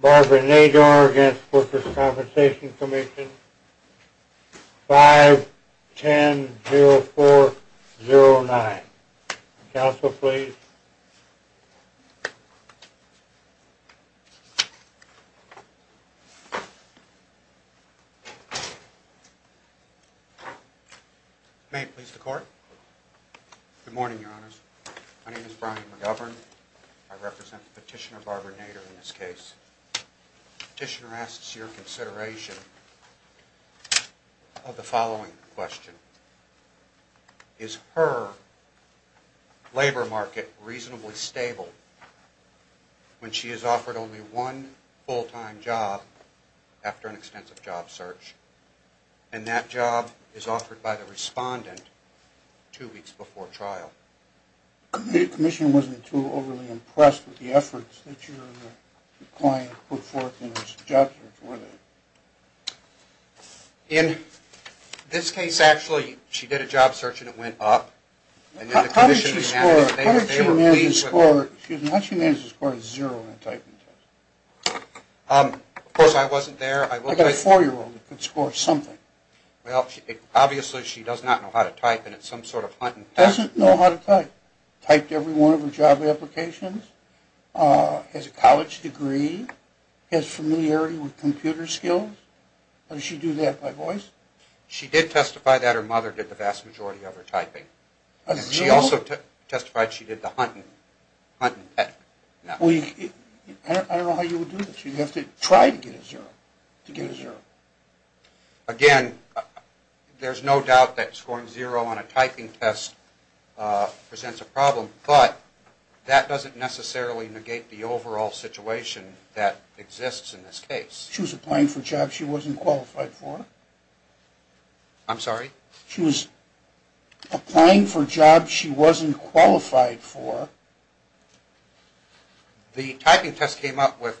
Barbara Nador v. Workers' Compensation Comm'n 5-10-0409 Counsel, please. May it please the Court. Good morning, Your Honors. My name is Brian McGovern. I represent Petitioner Barbara Nador in this case. The Petitioner asks your consideration of the following question. Is her labor market reasonably stable when she is offered only one full-time job after an extensive job search, and that job is offered by the respondent two weeks before trial? The Petitioner wasn't too overly impressed with the efforts that your client put forth in her job search, were they? In this case, actually, she did a job search and it went up. How did she manage to score a zero in the typing test? Of course, I wasn't there. A four-year-old could score something. Obviously, she does not know how to type and it's some sort of hunting test. Doesn't know how to type? Typed every one of her job applications? Has a college degree? Has familiarity with computer skills? How does she do that, by voice? She did testify that her mother did the vast majority of her typing. She also testified she did the hunting test. I don't know how you would do that. You have to try to get a zero. Again, there's no doubt that scoring zero on a typing test presents a problem, but that doesn't necessarily negate the overall situation that exists in this case. She was applying for jobs she wasn't qualified for. I'm sorry? She was applying for jobs she wasn't qualified for. The typing test came up with...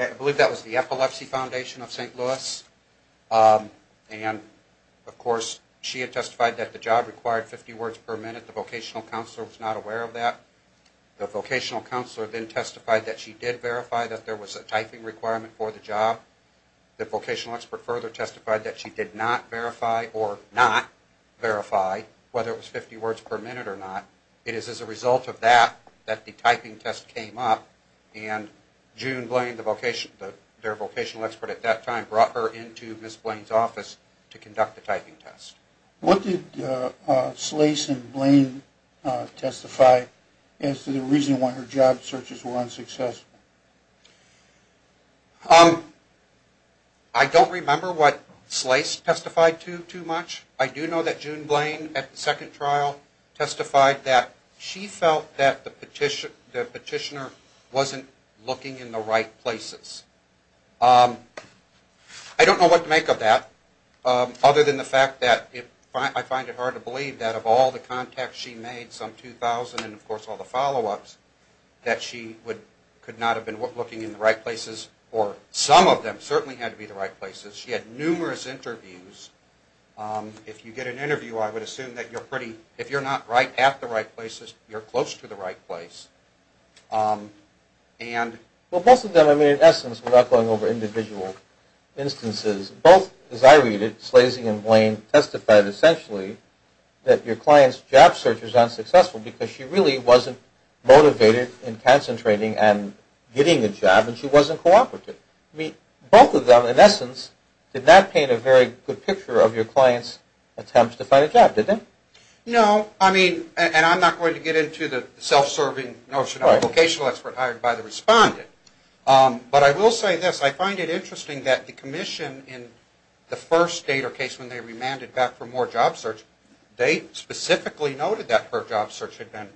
I believe that was the Epilepsy Foundation of St. Louis. And, of course, she had testified that the job required 50 words per minute. The vocational counselor was not aware of that. The vocational counselor then testified that she did verify that there was a typing requirement for the job. The vocational expert further testified that she did not verify or not verify whether it was 50 words per minute or not. It is as a result of that that the typing test came up, and June Blaine, their vocational expert at that time, brought her into Ms. Blaine's office to conduct the typing test. What did Slace and Blaine testify as to the reason why her job searches were unsuccessful? I don't remember what Slace testified to too much. I do know that June Blaine, at the second trial, testified that she felt that the petitioner wasn't looking in the right places. I don't know what to make of that, other than the fact that I find it hard to believe that, of all the contacts she made, some 2,000, and, of course, all the follow-ups, that she could not have been looking in the right places, or some of them certainly had to be the right places. She had numerous interviews. If you get an interview, I would assume that you're pretty, if you're not at the right places, you're close to the right place. Most of them, in essence, without going over individual instances, both, as I read it, Slace and Blaine testified, essentially, that your client's job search was unsuccessful because she really wasn't motivated and concentrating and getting a job, and she wasn't cooperative. Both of them, in essence, did not paint a very good picture of your client's attempts to find a job, did they? No. I mean, and I'm not going to get into the self-serving notion of a vocational expert hired by the respondent, but I will say this. I find it interesting that the commission, in the first date or case when they remanded back for more job search, they specifically noted that her job search had been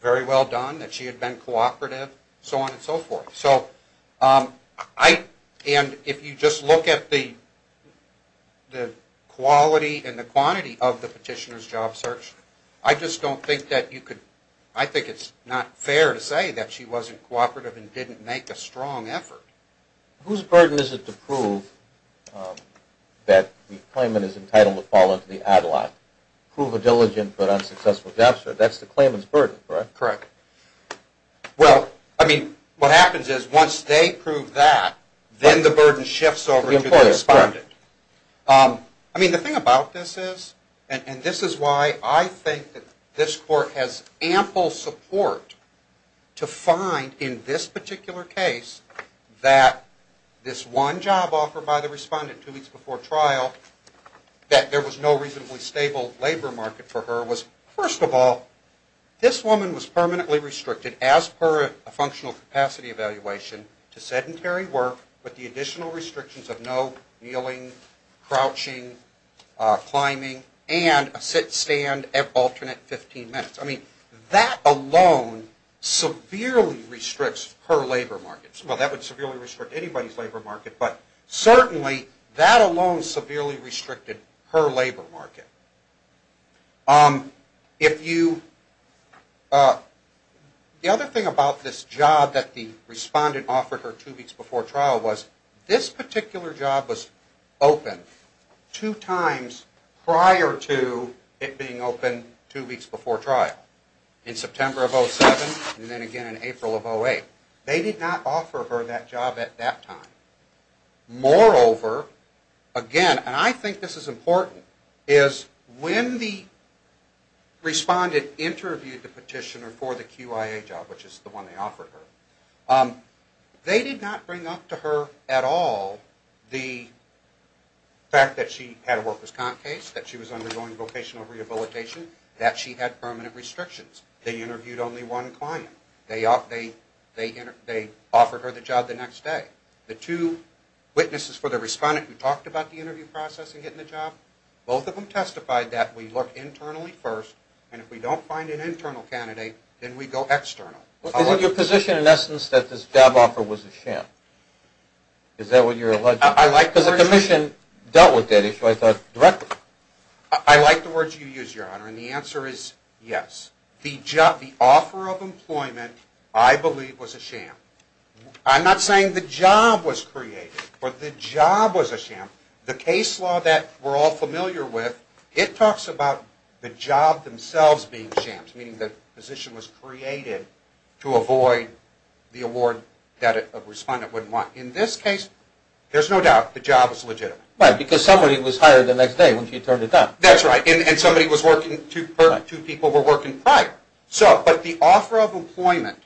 very well done, that she had been cooperative, so on and so forth. So I, and if you just look at the quality and the quantity of the petitioner's job search, I just don't think that you could, I think it's not fair to say that she wasn't cooperative and didn't make a strong effort. Whose burden is it to prove that the claimant is entitled to fall into the ad-lock? Prove a diligent but unsuccessful job search. That's the claimant's burden, correct? Correct. Well, I mean, what happens is once they prove that, then the burden shifts over to the respondent. I mean, the thing about this is, and this is why I think that this court has ample support to find in this particular case that this one job offer by the respondent two weeks before trial, that there was no reasonably stable labor market for her, that there was, first of all, this woman was permanently restricted as per a functional capacity evaluation to sedentary work with the additional restrictions of no kneeling, crouching, climbing, and a sit-stand at alternate 15 minutes. I mean, that alone severely restricts her labor market. Well, that would severely restrict anybody's labor market, but certainly that alone severely restricted her labor market. If you... The other thing about this job that the respondent offered her two weeks before trial was this particular job was open two times prior to it being open two weeks before trial, in September of 2007 and then again in April of 2008. They did not offer her that job at that time. Moreover, again, and I think this is important, is when the respondent interviewed the petitioner for the QIA job, which is the one they offered her, they did not bring up to her at all the fact that she had a worker's comp case, that she was undergoing vocational rehabilitation, that she had permanent restrictions. They interviewed only one client. They offered her the job the next day. The two witnesses for the respondent who talked about the interview process and getting the job, both of them testified that we look internally first, and if we don't find an internal candidate, then we go external. Is it your position, in essence, that this job offer was a sham? Is that what you're alleging? Because the commission dealt with that issue, I thought, directly. I like the words you use, Your Honor, and the answer is yes. The offer of employment, I believe, was a sham. I'm not saying the job was created, but the job was a sham. The case law that we're all familiar with, it talks about the job themselves being shams, meaning the position was created to avoid the award that a respondent would want. In this case, there's no doubt the job is legitimate. Right, because somebody was hired the next day once you turned it down. That's right, and somebody was working, two people were working prior. But the offer of employment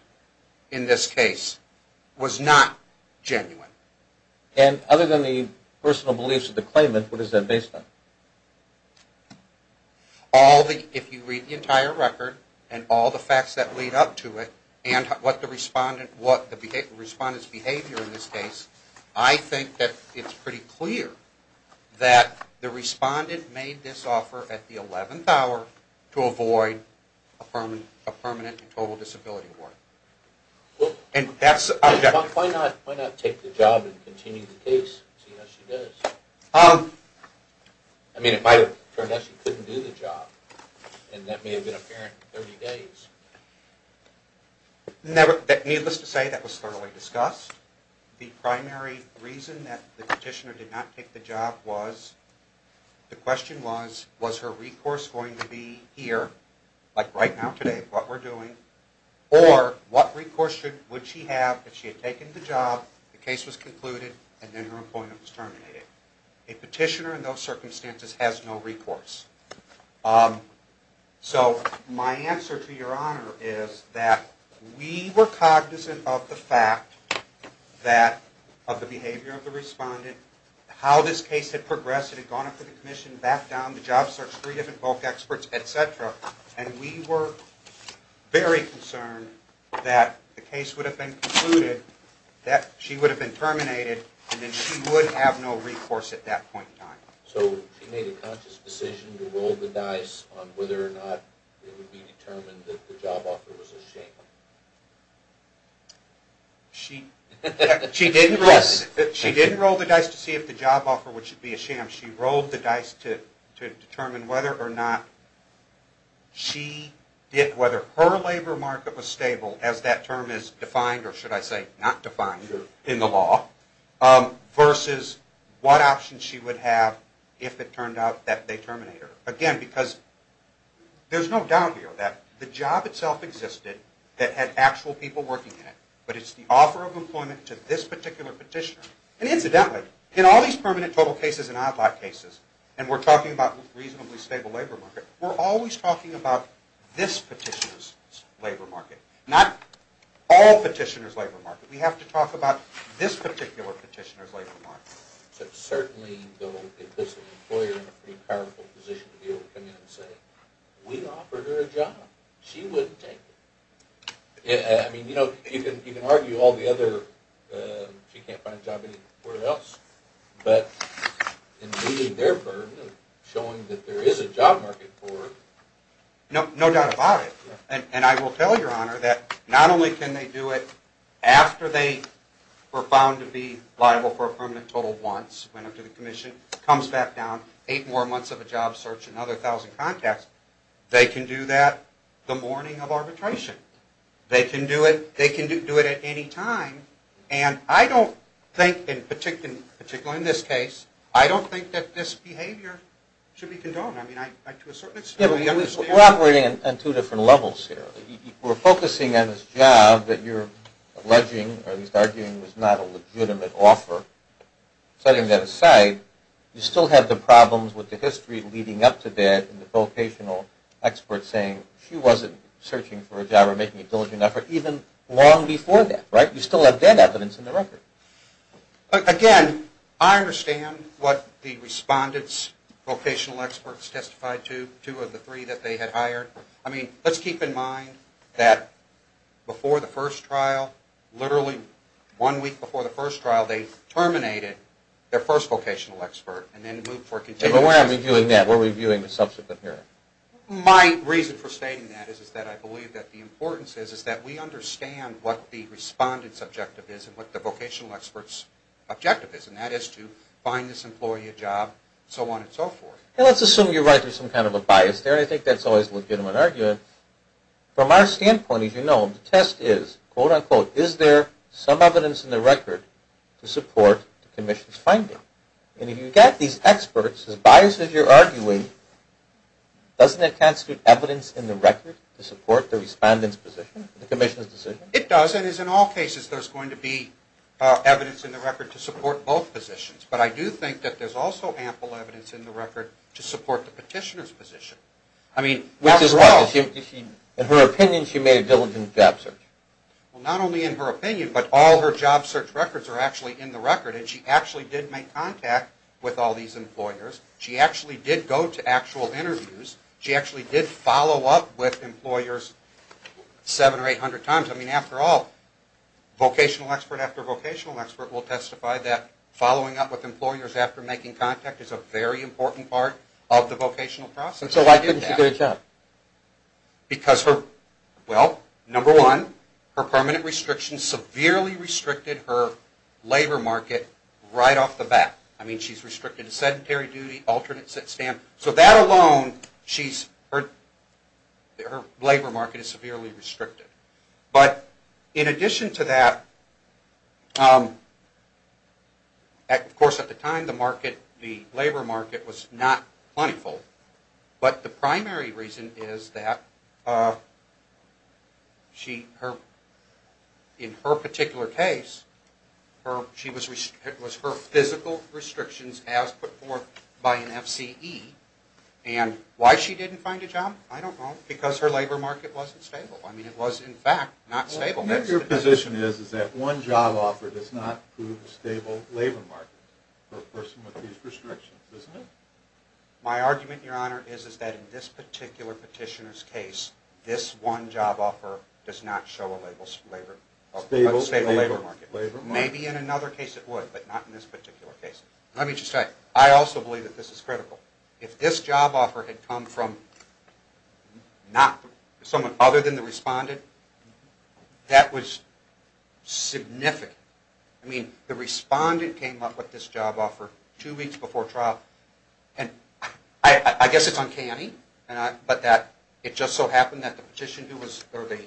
in this case was not genuine. And other than the personal beliefs of the claimant, what is that based on? If you read the entire record and all the facts that lead up to it and what the respondent's behavior in this case, I think that it's pretty clear that the respondent made this offer at the 11th hour to avoid a permanent and total disability award. Why not take the job and continue the case and see how she does? I mean, it might have turned out she couldn't do the job, and that may have been apparent in 30 days. Needless to say, that was thoroughly discussed. The primary reason that the petitioner did not take the job was, the question was, was her recourse going to be here, like right now today, what we're doing, or what recourse would she have if she had taken the job, the case was concluded, and then her employment was terminated? A petitioner in those circumstances has no recourse. So my answer to Your Honor is that we were cognizant of the fact that of the behavior of the respondent, how this case had progressed, it had gone up to the commission, back down, the job search, three different bulk experts, etc., and we were very concerned that the case would have been concluded, that she would have been terminated, and then she would have no recourse at that point in time. So she made a conscious decision to roll the dice on whether or not it would be determined that the job offer was a shame? She didn't roll the dice to see if the job offer would be a shame. She rolled the dice to determine whether or not her labor market was stable, as that term is defined, or should I say not defined in the law, versus what options she would have if it turned out that they terminate her. Again, because there's no doubt here that the job itself existed, that had actual people working in it, but it's the offer of employment to this particular petitioner. And incidentally, in all these permanent total cases and odd lot cases, and we're talking about reasonably stable labor market, we're always talking about this petitioner's labor market, not all petitioners' labor market. We have to talk about this particular petitioner's labor market. Certainly, though, it puts an employer in a pretty powerful position to be able to come in and say, we offered her a job. She wouldn't take it. I mean, you know, you can argue all the other, she can't find a job anywhere else, but in meeting their burden of showing that there is a job market for her. No doubt about it. And I will tell Your Honor that not only can they do it after they were found to be liable for a permanent total once, went up to the commission, comes back down, eight more months of a job search, another 1,000 contacts, they can do that the morning of arbitration. They can do it at any time. And I don't think, particularly in this case, I don't think that this behavior should be condoned. I mean, to a certain extent. We're operating on two different levels here. We're focusing on this job that you're alleging, or at least arguing was not a legitimate offer. Setting that aside, you still have the problems with the history leading up to that and the vocational experts saying she wasn't searching for a job or making a diligent effort even long before that, right? You still have that evidence in the record. Again, I understand what the respondents, vocational experts testified to, two of the three that they had hired. I mean, let's keep in mind that before the first trial, literally one week before the first trial, they terminated their first vocational expert and then moved for a continued investigation. But where are we viewing that? Where are we viewing the subsequent hearing? My reason for stating that is that I believe that the importance is that we understand what the respondent's objective is and what the vocational expert's objective is, and that is to find this employee a job, so on and so forth. Let's assume you're right. There's some kind of a bias there. I think that's always a legitimate argument. From our standpoint, as you know, the test is, quote, unquote, is there some evidence in the record to support the commission's finding? And if you've got these experts, as biased as you're arguing, doesn't it constitute evidence in the record to support the respondent's position, the commission's decision? It does, and as in all cases, there's going to be evidence in the record to support both positions. But I do think that there's also ample evidence in the record to support the petitioner's position. I mean, after all, in her opinion, she made a diligent job search. Well, not only in her opinion, but all her job search records are actually in the record, and she actually did make contact with all these employers. She actually did go to actual interviews. She actually did follow up with employers seven or 800 times. I mean, after all, vocational expert after vocational expert will testify that that's a very important part of the vocational process. So why didn't she do her job? Because, well, number one, her permanent restrictions severely restricted her labor market right off the bat. I mean, she's restricted to sedentary duty, alternate sit-stand. So that alone, her labor market is severely restricted. But in addition to that, of course, at the time, the labor market was not plentiful. But the primary reason is that in her particular case, it was her physical restrictions as put forth by an FCE. And why she didn't find a job, I don't know, because her labor market wasn't stable. I mean, it was, in fact, not stable. What your position is is that one job offer does not prove a stable labor market for a person with these restrictions, doesn't it? My argument, Your Honor, is that in this particular petitioner's case, this one job offer does not show a stable labor market. Maybe in another case it would, but not in this particular case. Let me just say, I also believe that this is critical. If this job offer had come from someone other than the respondent, that was significant. I mean, the respondent came up with this job offer two weeks before trial. And I guess it's uncanny, but that it just so happened that the petitioner or the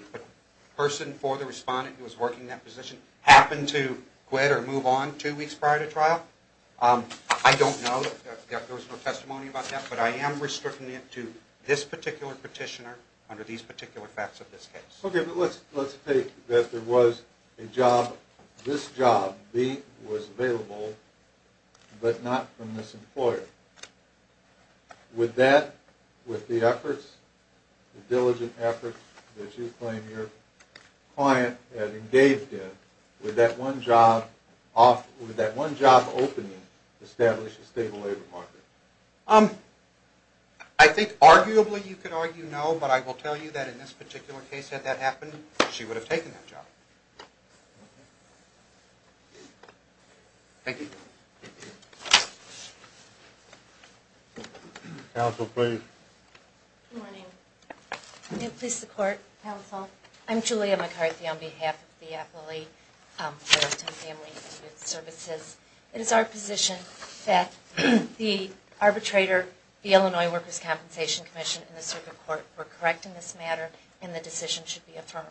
person for the respondent who was working that position happened to quit or move on two weeks prior to trial. I don't know. There was no testimony about that. But I am restricting it to this particular petitioner under these particular facts of this case. Okay. But let's take that there was a job, this job, B, was available, but not from this employer. Would that, with the efforts, the diligent efforts that you claim your client had engaged in, would that one job opening establish a stable labor market? I think arguably you could argue no, but I will tell you that in this particular case, had that happened, she would have taken that job. Thank you. Counsel, please. Good morning. May it please the Court, Counsel. I'm Julia McCarthy on behalf of the Appalachian Family Services. It is our position that the arbitrator, the Illinois Workers' Compensation Commission, and the Circuit Court were correct in this matter and the decision should be affirmed.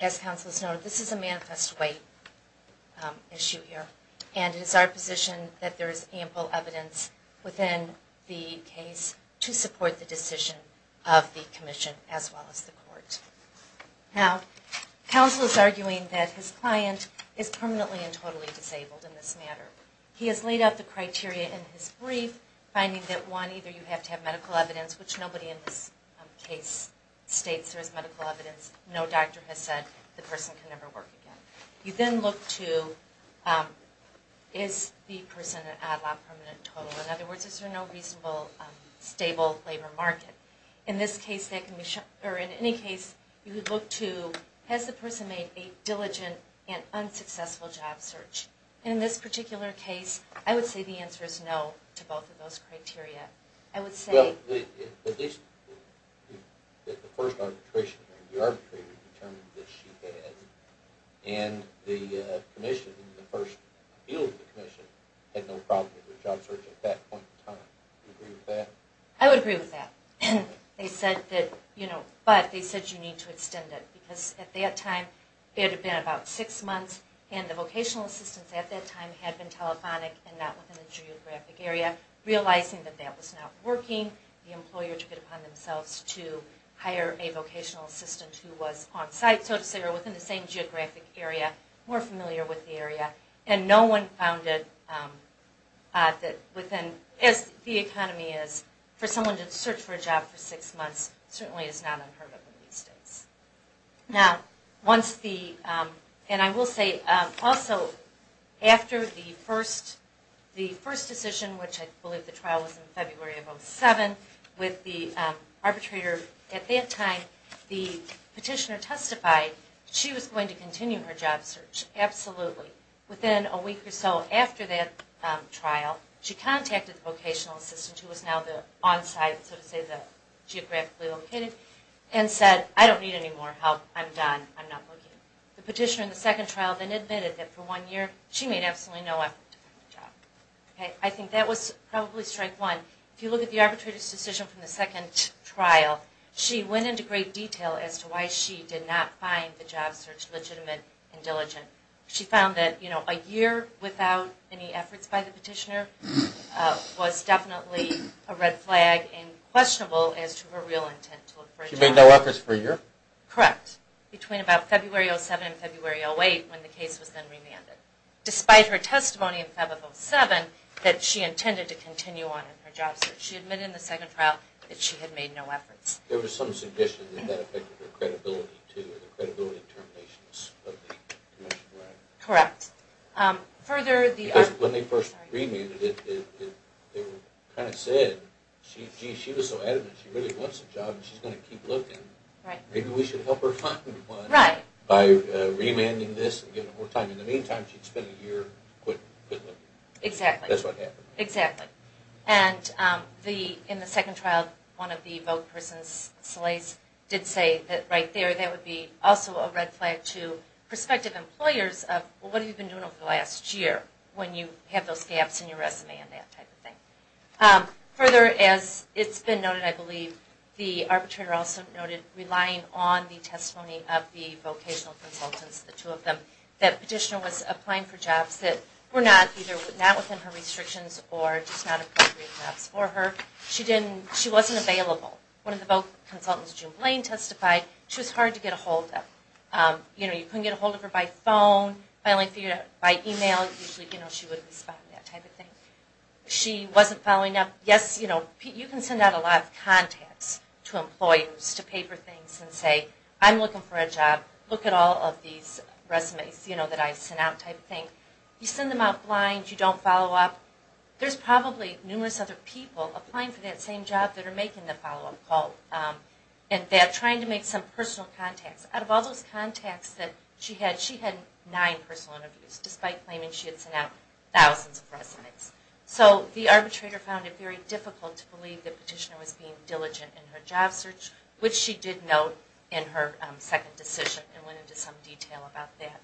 As Counsel has noted, this is a manifest way issue here, and it is our position that there is ample evidence within the case to support the decision of the Commission as well as the Court. Now, Counsel is arguing that his client is permanently and totally disabled in this matter. He has laid out the criteria in his brief, finding that, one, either you have to have medical evidence, which nobody in this case states there is medical evidence. No doctor has said the person can never work again. You then look to, is the person an odd-lot permanent total? In other words, is there no reasonable, stable labor market? In this case, that can be shown, or in any case, you would look to, has the person made a diligent and unsuccessful job search? And in this particular case, I would say the answer is no to both of those criteria. I would say... Well, at least the first arbitration, the arbitrator determined that she had, and the Commission in the first field of the Commission had no problem with her job search at that point in time. Do you agree with that? I would agree with that. They said that, you know, but they said you need to extend it because at that time it had been about six months and the vocational assistants at that time had been telephonic and not within the geographic area, realizing that that was not working. The employer took it upon themselves to hire a vocational assistant who was on-site, so to say, or within the same geographic area, more familiar with the area. And no one found it that within, as the economy is, for someone to search for a job for six months certainly is not unheard of in these states. Now, once the... And I will say, also, after the first decision, which I believe the trial was in February of 2007, with the arbitrator at that time, the petitioner testified that she was going to continue her job search, absolutely. Within a week or so after that trial, she contacted the vocational assistant, who was now the on-site, so to say, the geographically located, and said, I don't need any more help, I'm done, I'm not looking. The petitioner in the second trial then admitted that for one year she made absolutely no effort to find a job. I think that was probably strike one. If you look at the arbitrator's decision from the second trial, she went into great detail as to why she did not find the job search legitimate and diligent. She found that a year without any efforts by the petitioner was definitely a red flag and questionable as to her real intent to look for a job. She made no efforts for a year? Correct. Between about February of 2007 and February of 2008, when the case was then remanded. Despite her testimony in February of 2007, that she intended to continue on in her job search, she admitted in the second trial that she had made no efforts. There was some suggestion that that affected her credibility, too, or the credibility determinations of the Commission, right? Correct. Because when they first remuted it, they kind of said, gee, she was so adamant she really wants a job and she's going to keep looking. Maybe we should help her find one by remanding this and giving her more time. In the meantime, she'd spend a year quit looking. Exactly. That's what happened. Exactly. And in the second trial, one of the vote person's slaves did say that right there that would be also a red flag to prospective employers of, well, what have you been doing over the last year when you have those gaps in your resume and that type of thing. Further, as it's been noted, I believe, the arbitrator also noted relying on the testimony of the vocational consultants, the two of them, that Petitioner was applying for jobs that were not within her restrictions or just not appropriate jobs for her. She wasn't available. One of the vote consultants, June Blaine, testified she was hard to get a hold of. You couldn't get a hold of her by phone. By email, usually she wouldn't respond, that type of thing. She wasn't following up. Yes, you can send out a lot of contacts to employers to pay for things and say, I'm looking for a job, look at all of these resumes that I sent out, type of thing. You send them out blind, you don't follow up. There's probably numerous other people applying for that same job that are making the follow-up call and they're trying to make some personal contacts. Out of all those contacts that she had, she had nine personal interviews, despite claiming she had sent out thousands of resumes. So the arbitrator found it very difficult to believe that Petitioner was being diligent in her job search, which she did note in her second decision and went into some detail about that.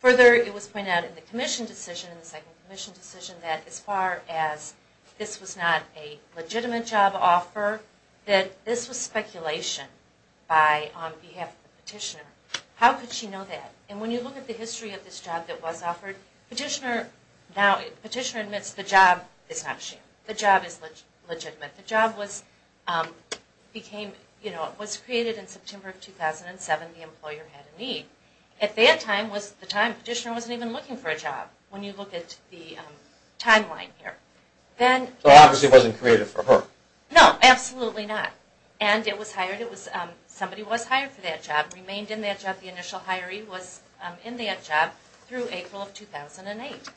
Further, it was pointed out in the commission decision, in the second commission decision, that as far as this was not a legitimate job offer, that this was speculation on behalf of the Petitioner. How could she know that? And when you look at the history of this job that was offered, Petitioner admits the job is not sham. The job is legitimate. The job was created in September of 2007. The employer had a need. At that time, Petitioner wasn't even looking for a job, when you look at the timeline here. So obviously it wasn't created for her. No, absolutely not. And it was hired, somebody was hired for that job, remained in that job, the initial hiree was in that job, through April of 2008.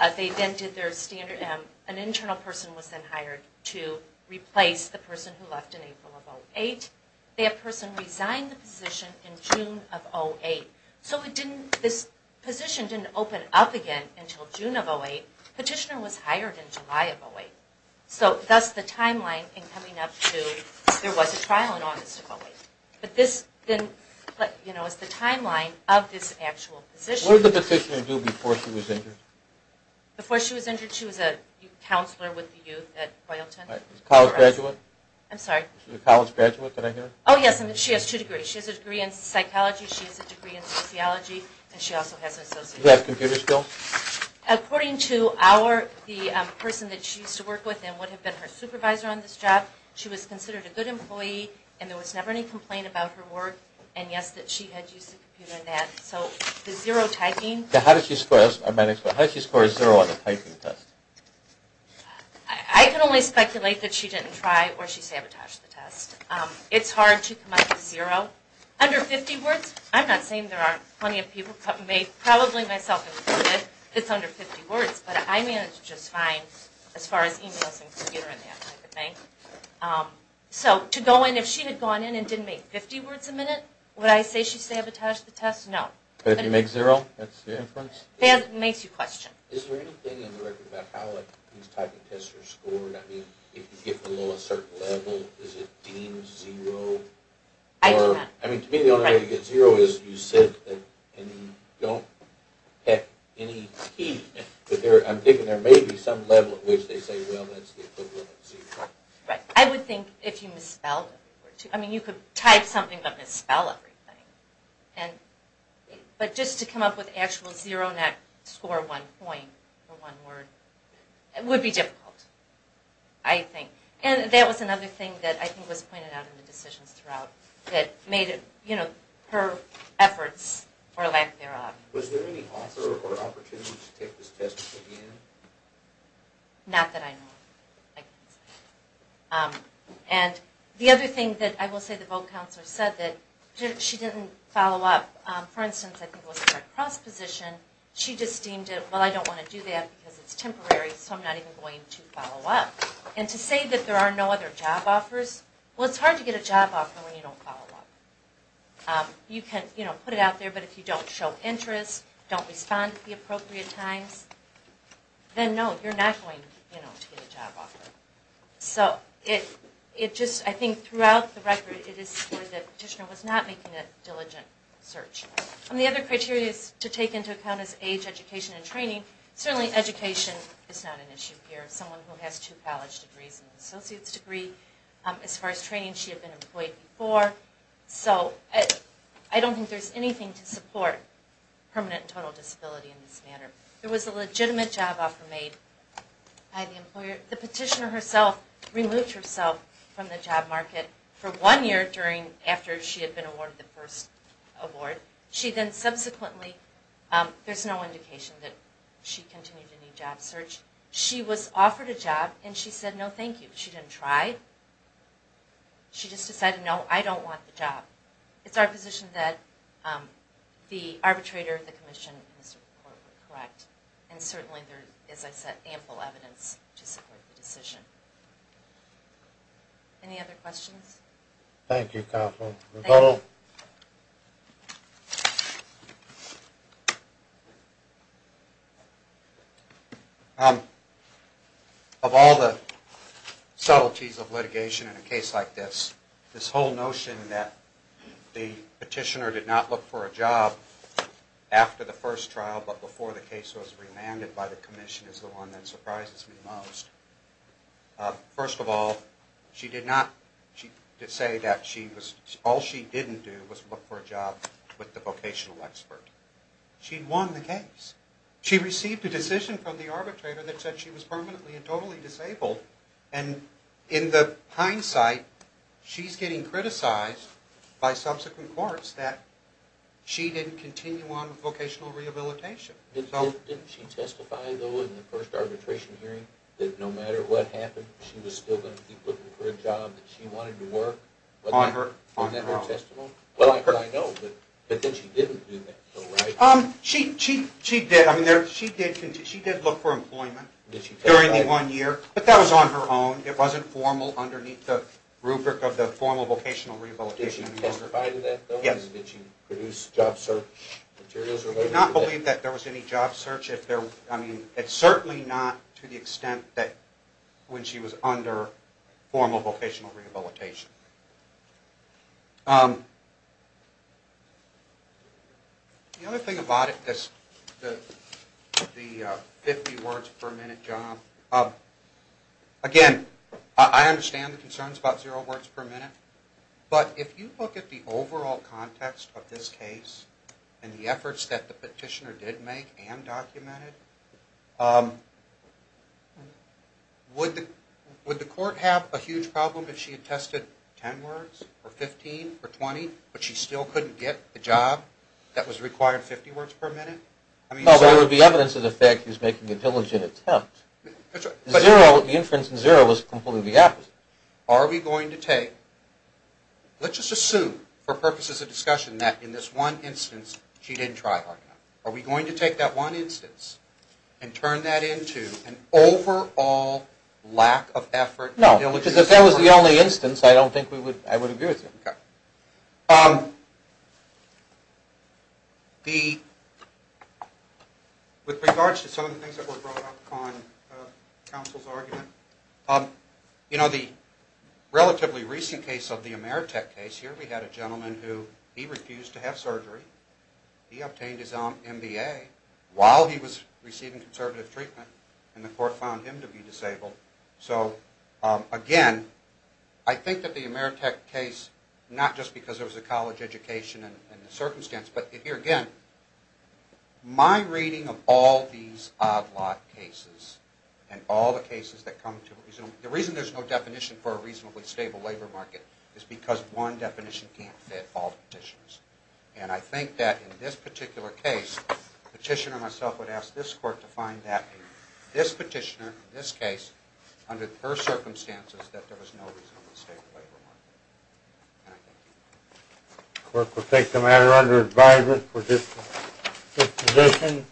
An internal person was then hired to replace the person who left in April of 2008. That person resigned the position in June of 2008. So this position didn't open up again until June of 2008. Petitioner was hired in July of 2008. So that's the timeline in coming up to, there was a trial in August of 2008. But this is the timeline of this actual position. What did the Petitioner do before she was injured? Before she was injured, she was a counselor with the youth at Royalton. A college graduate? I'm sorry? She was a college graduate, did I hear? Oh yes, she has two degrees. She has a degree in psychology, she has a degree in sociology, and she also has an associate's degree. Does she have computer skills? According to the person that she used to work with and would have been her supervisor on this job, she was considered a good employee and there was never any complaint about her work, and yes, that she had used a computer in that. So the zero typing. How did she score a zero on the typing test? I can only speculate that she didn't try or she sabotaged the test. It's hard to come up with zero. Under 50 words, I'm not saying there aren't plenty of people, probably myself included, it's under 50 words, but I managed just fine as far as emails and computer and that type of thing. So to go in, if she had gone in and didn't make 50 words a minute, would I say she sabotaged the test? No. But if you make zero, that's the inference? That makes you question. Is there anything in the record about how these typing tests are scored? I mean, if you get below a certain level, is it deemed zero? I do not. To me, the only way to get zero is you sit and you don't have any teeth. I'm thinking there may be some level at which they say, well, that's the equivalent of zero. I would think if you misspelled it. I mean, you could type something but misspell everything. But just to come up with actual zero and not score one point for one word would be difficult, I think. And that was another thing that I think was pointed out in the decisions throughout that made her efforts or lack thereof. Was there any offer or opportunity to take this test again? Not that I know of. And the other thing that I will say the vote counselor said, that she didn't follow up. For instance, I think it was her cross position. She just deemed it, well, I don't want to do that because it's temporary, so I'm not even going to follow up. And to say that there are no other job offers, well, it's hard to get a job offer when you don't follow up. You can put it out there, but if you don't show interest, don't respond at the appropriate times, then no, you're not going to get a job offer. So I think throughout the record, it is where the petitioner was not making a diligent search. And the other criteria to take into account is age, education, and training. Certainly education is not an issue here. Someone who has two college degrees and an associate's degree. As far as training, she had been employed before. So I don't think there's anything to support permanent and total disability in this matter. There was a legitimate job offer made by the employer. The petitioner herself removed herself from the job market for one year after she had been awarded the first award. She then subsequently, there's no indication that she continued to need job search. She was offered a job, and she said, no, thank you. She didn't try. She just decided, no, I don't want the job. It's our position that the arbitrator, the commission, and the Supreme Court were correct. And certainly there is, as I said, ample evidence to support the decision. Any other questions? Thank you, Kathleen. Thank you. Of all the subtleties of litigation in a case like this, this whole notion that the petitioner did not look for a job after the first trial, but before the case was re-landed by the commission is the one that surprises me most. First of all, she did not say that she was supposed to be a permanent employee. All she didn't do was look for a job with the vocational expert. She won the case. She received a decision from the arbitrator that said she was permanently and totally disabled, and in the hindsight, she's getting criticized by subsequent courts that she didn't continue on with vocational rehabilitation. Didn't she testify, though, in the first arbitration hearing, that no matter what happened, she was still going to keep looking for a job that she wanted to work? Wasn't that her testimony? I know, but then she didn't do that. She did look for employment during the one year, but that was on her own. It wasn't formal underneath the rubric of the formal vocational rehabilitation. Did she testify to that, though? Did she produce job search materials? I do not believe that there was any job search. It's certainly not to the extent that when she was under formal vocational rehabilitation. The other thing about it is the 50 words per minute job. Again, I understand the concerns about zero words per minute, but if you look at the overall context of this case and the efforts that the petitioner did make and documented, would the court have a huge problem if she had tested 10 words, or 15, or 20, but she still couldn't get the job that was required 50 words per minute? There would be evidence of the fact that she was making a diligent attempt. The inference in zero was completely the opposite. Are we going to take... Let's just assume, for purposes of discussion, that in this one instance, she didn't try hard enough. Are we going to take that one instance and turn that into an overall lack of effort? No, because if that was the only instance, I don't think I would agree with it. With regards to some of the things that were brought up on counsel's argument, the relatively recent case of the Ameritech case, here we had a gentleman who refused to have surgery. He obtained his own MBA while he was receiving conservative treatment, and the court found him to be disabled. Again, I think that the Ameritech case, not just because there was a college education and the circumstance, but here again, my reading of all these odd lot cases and all the cases that come to... The reason there's no definition for a reasonably stable labor market is because one definition can't fit all the petitions. And I think that in this particular case, the petitioner myself would ask this court to find that in this petitioner, in this case, under her circumstances, that there was no reasonably stable labor market. And I thank you. The court will take the matter under advisement for this position.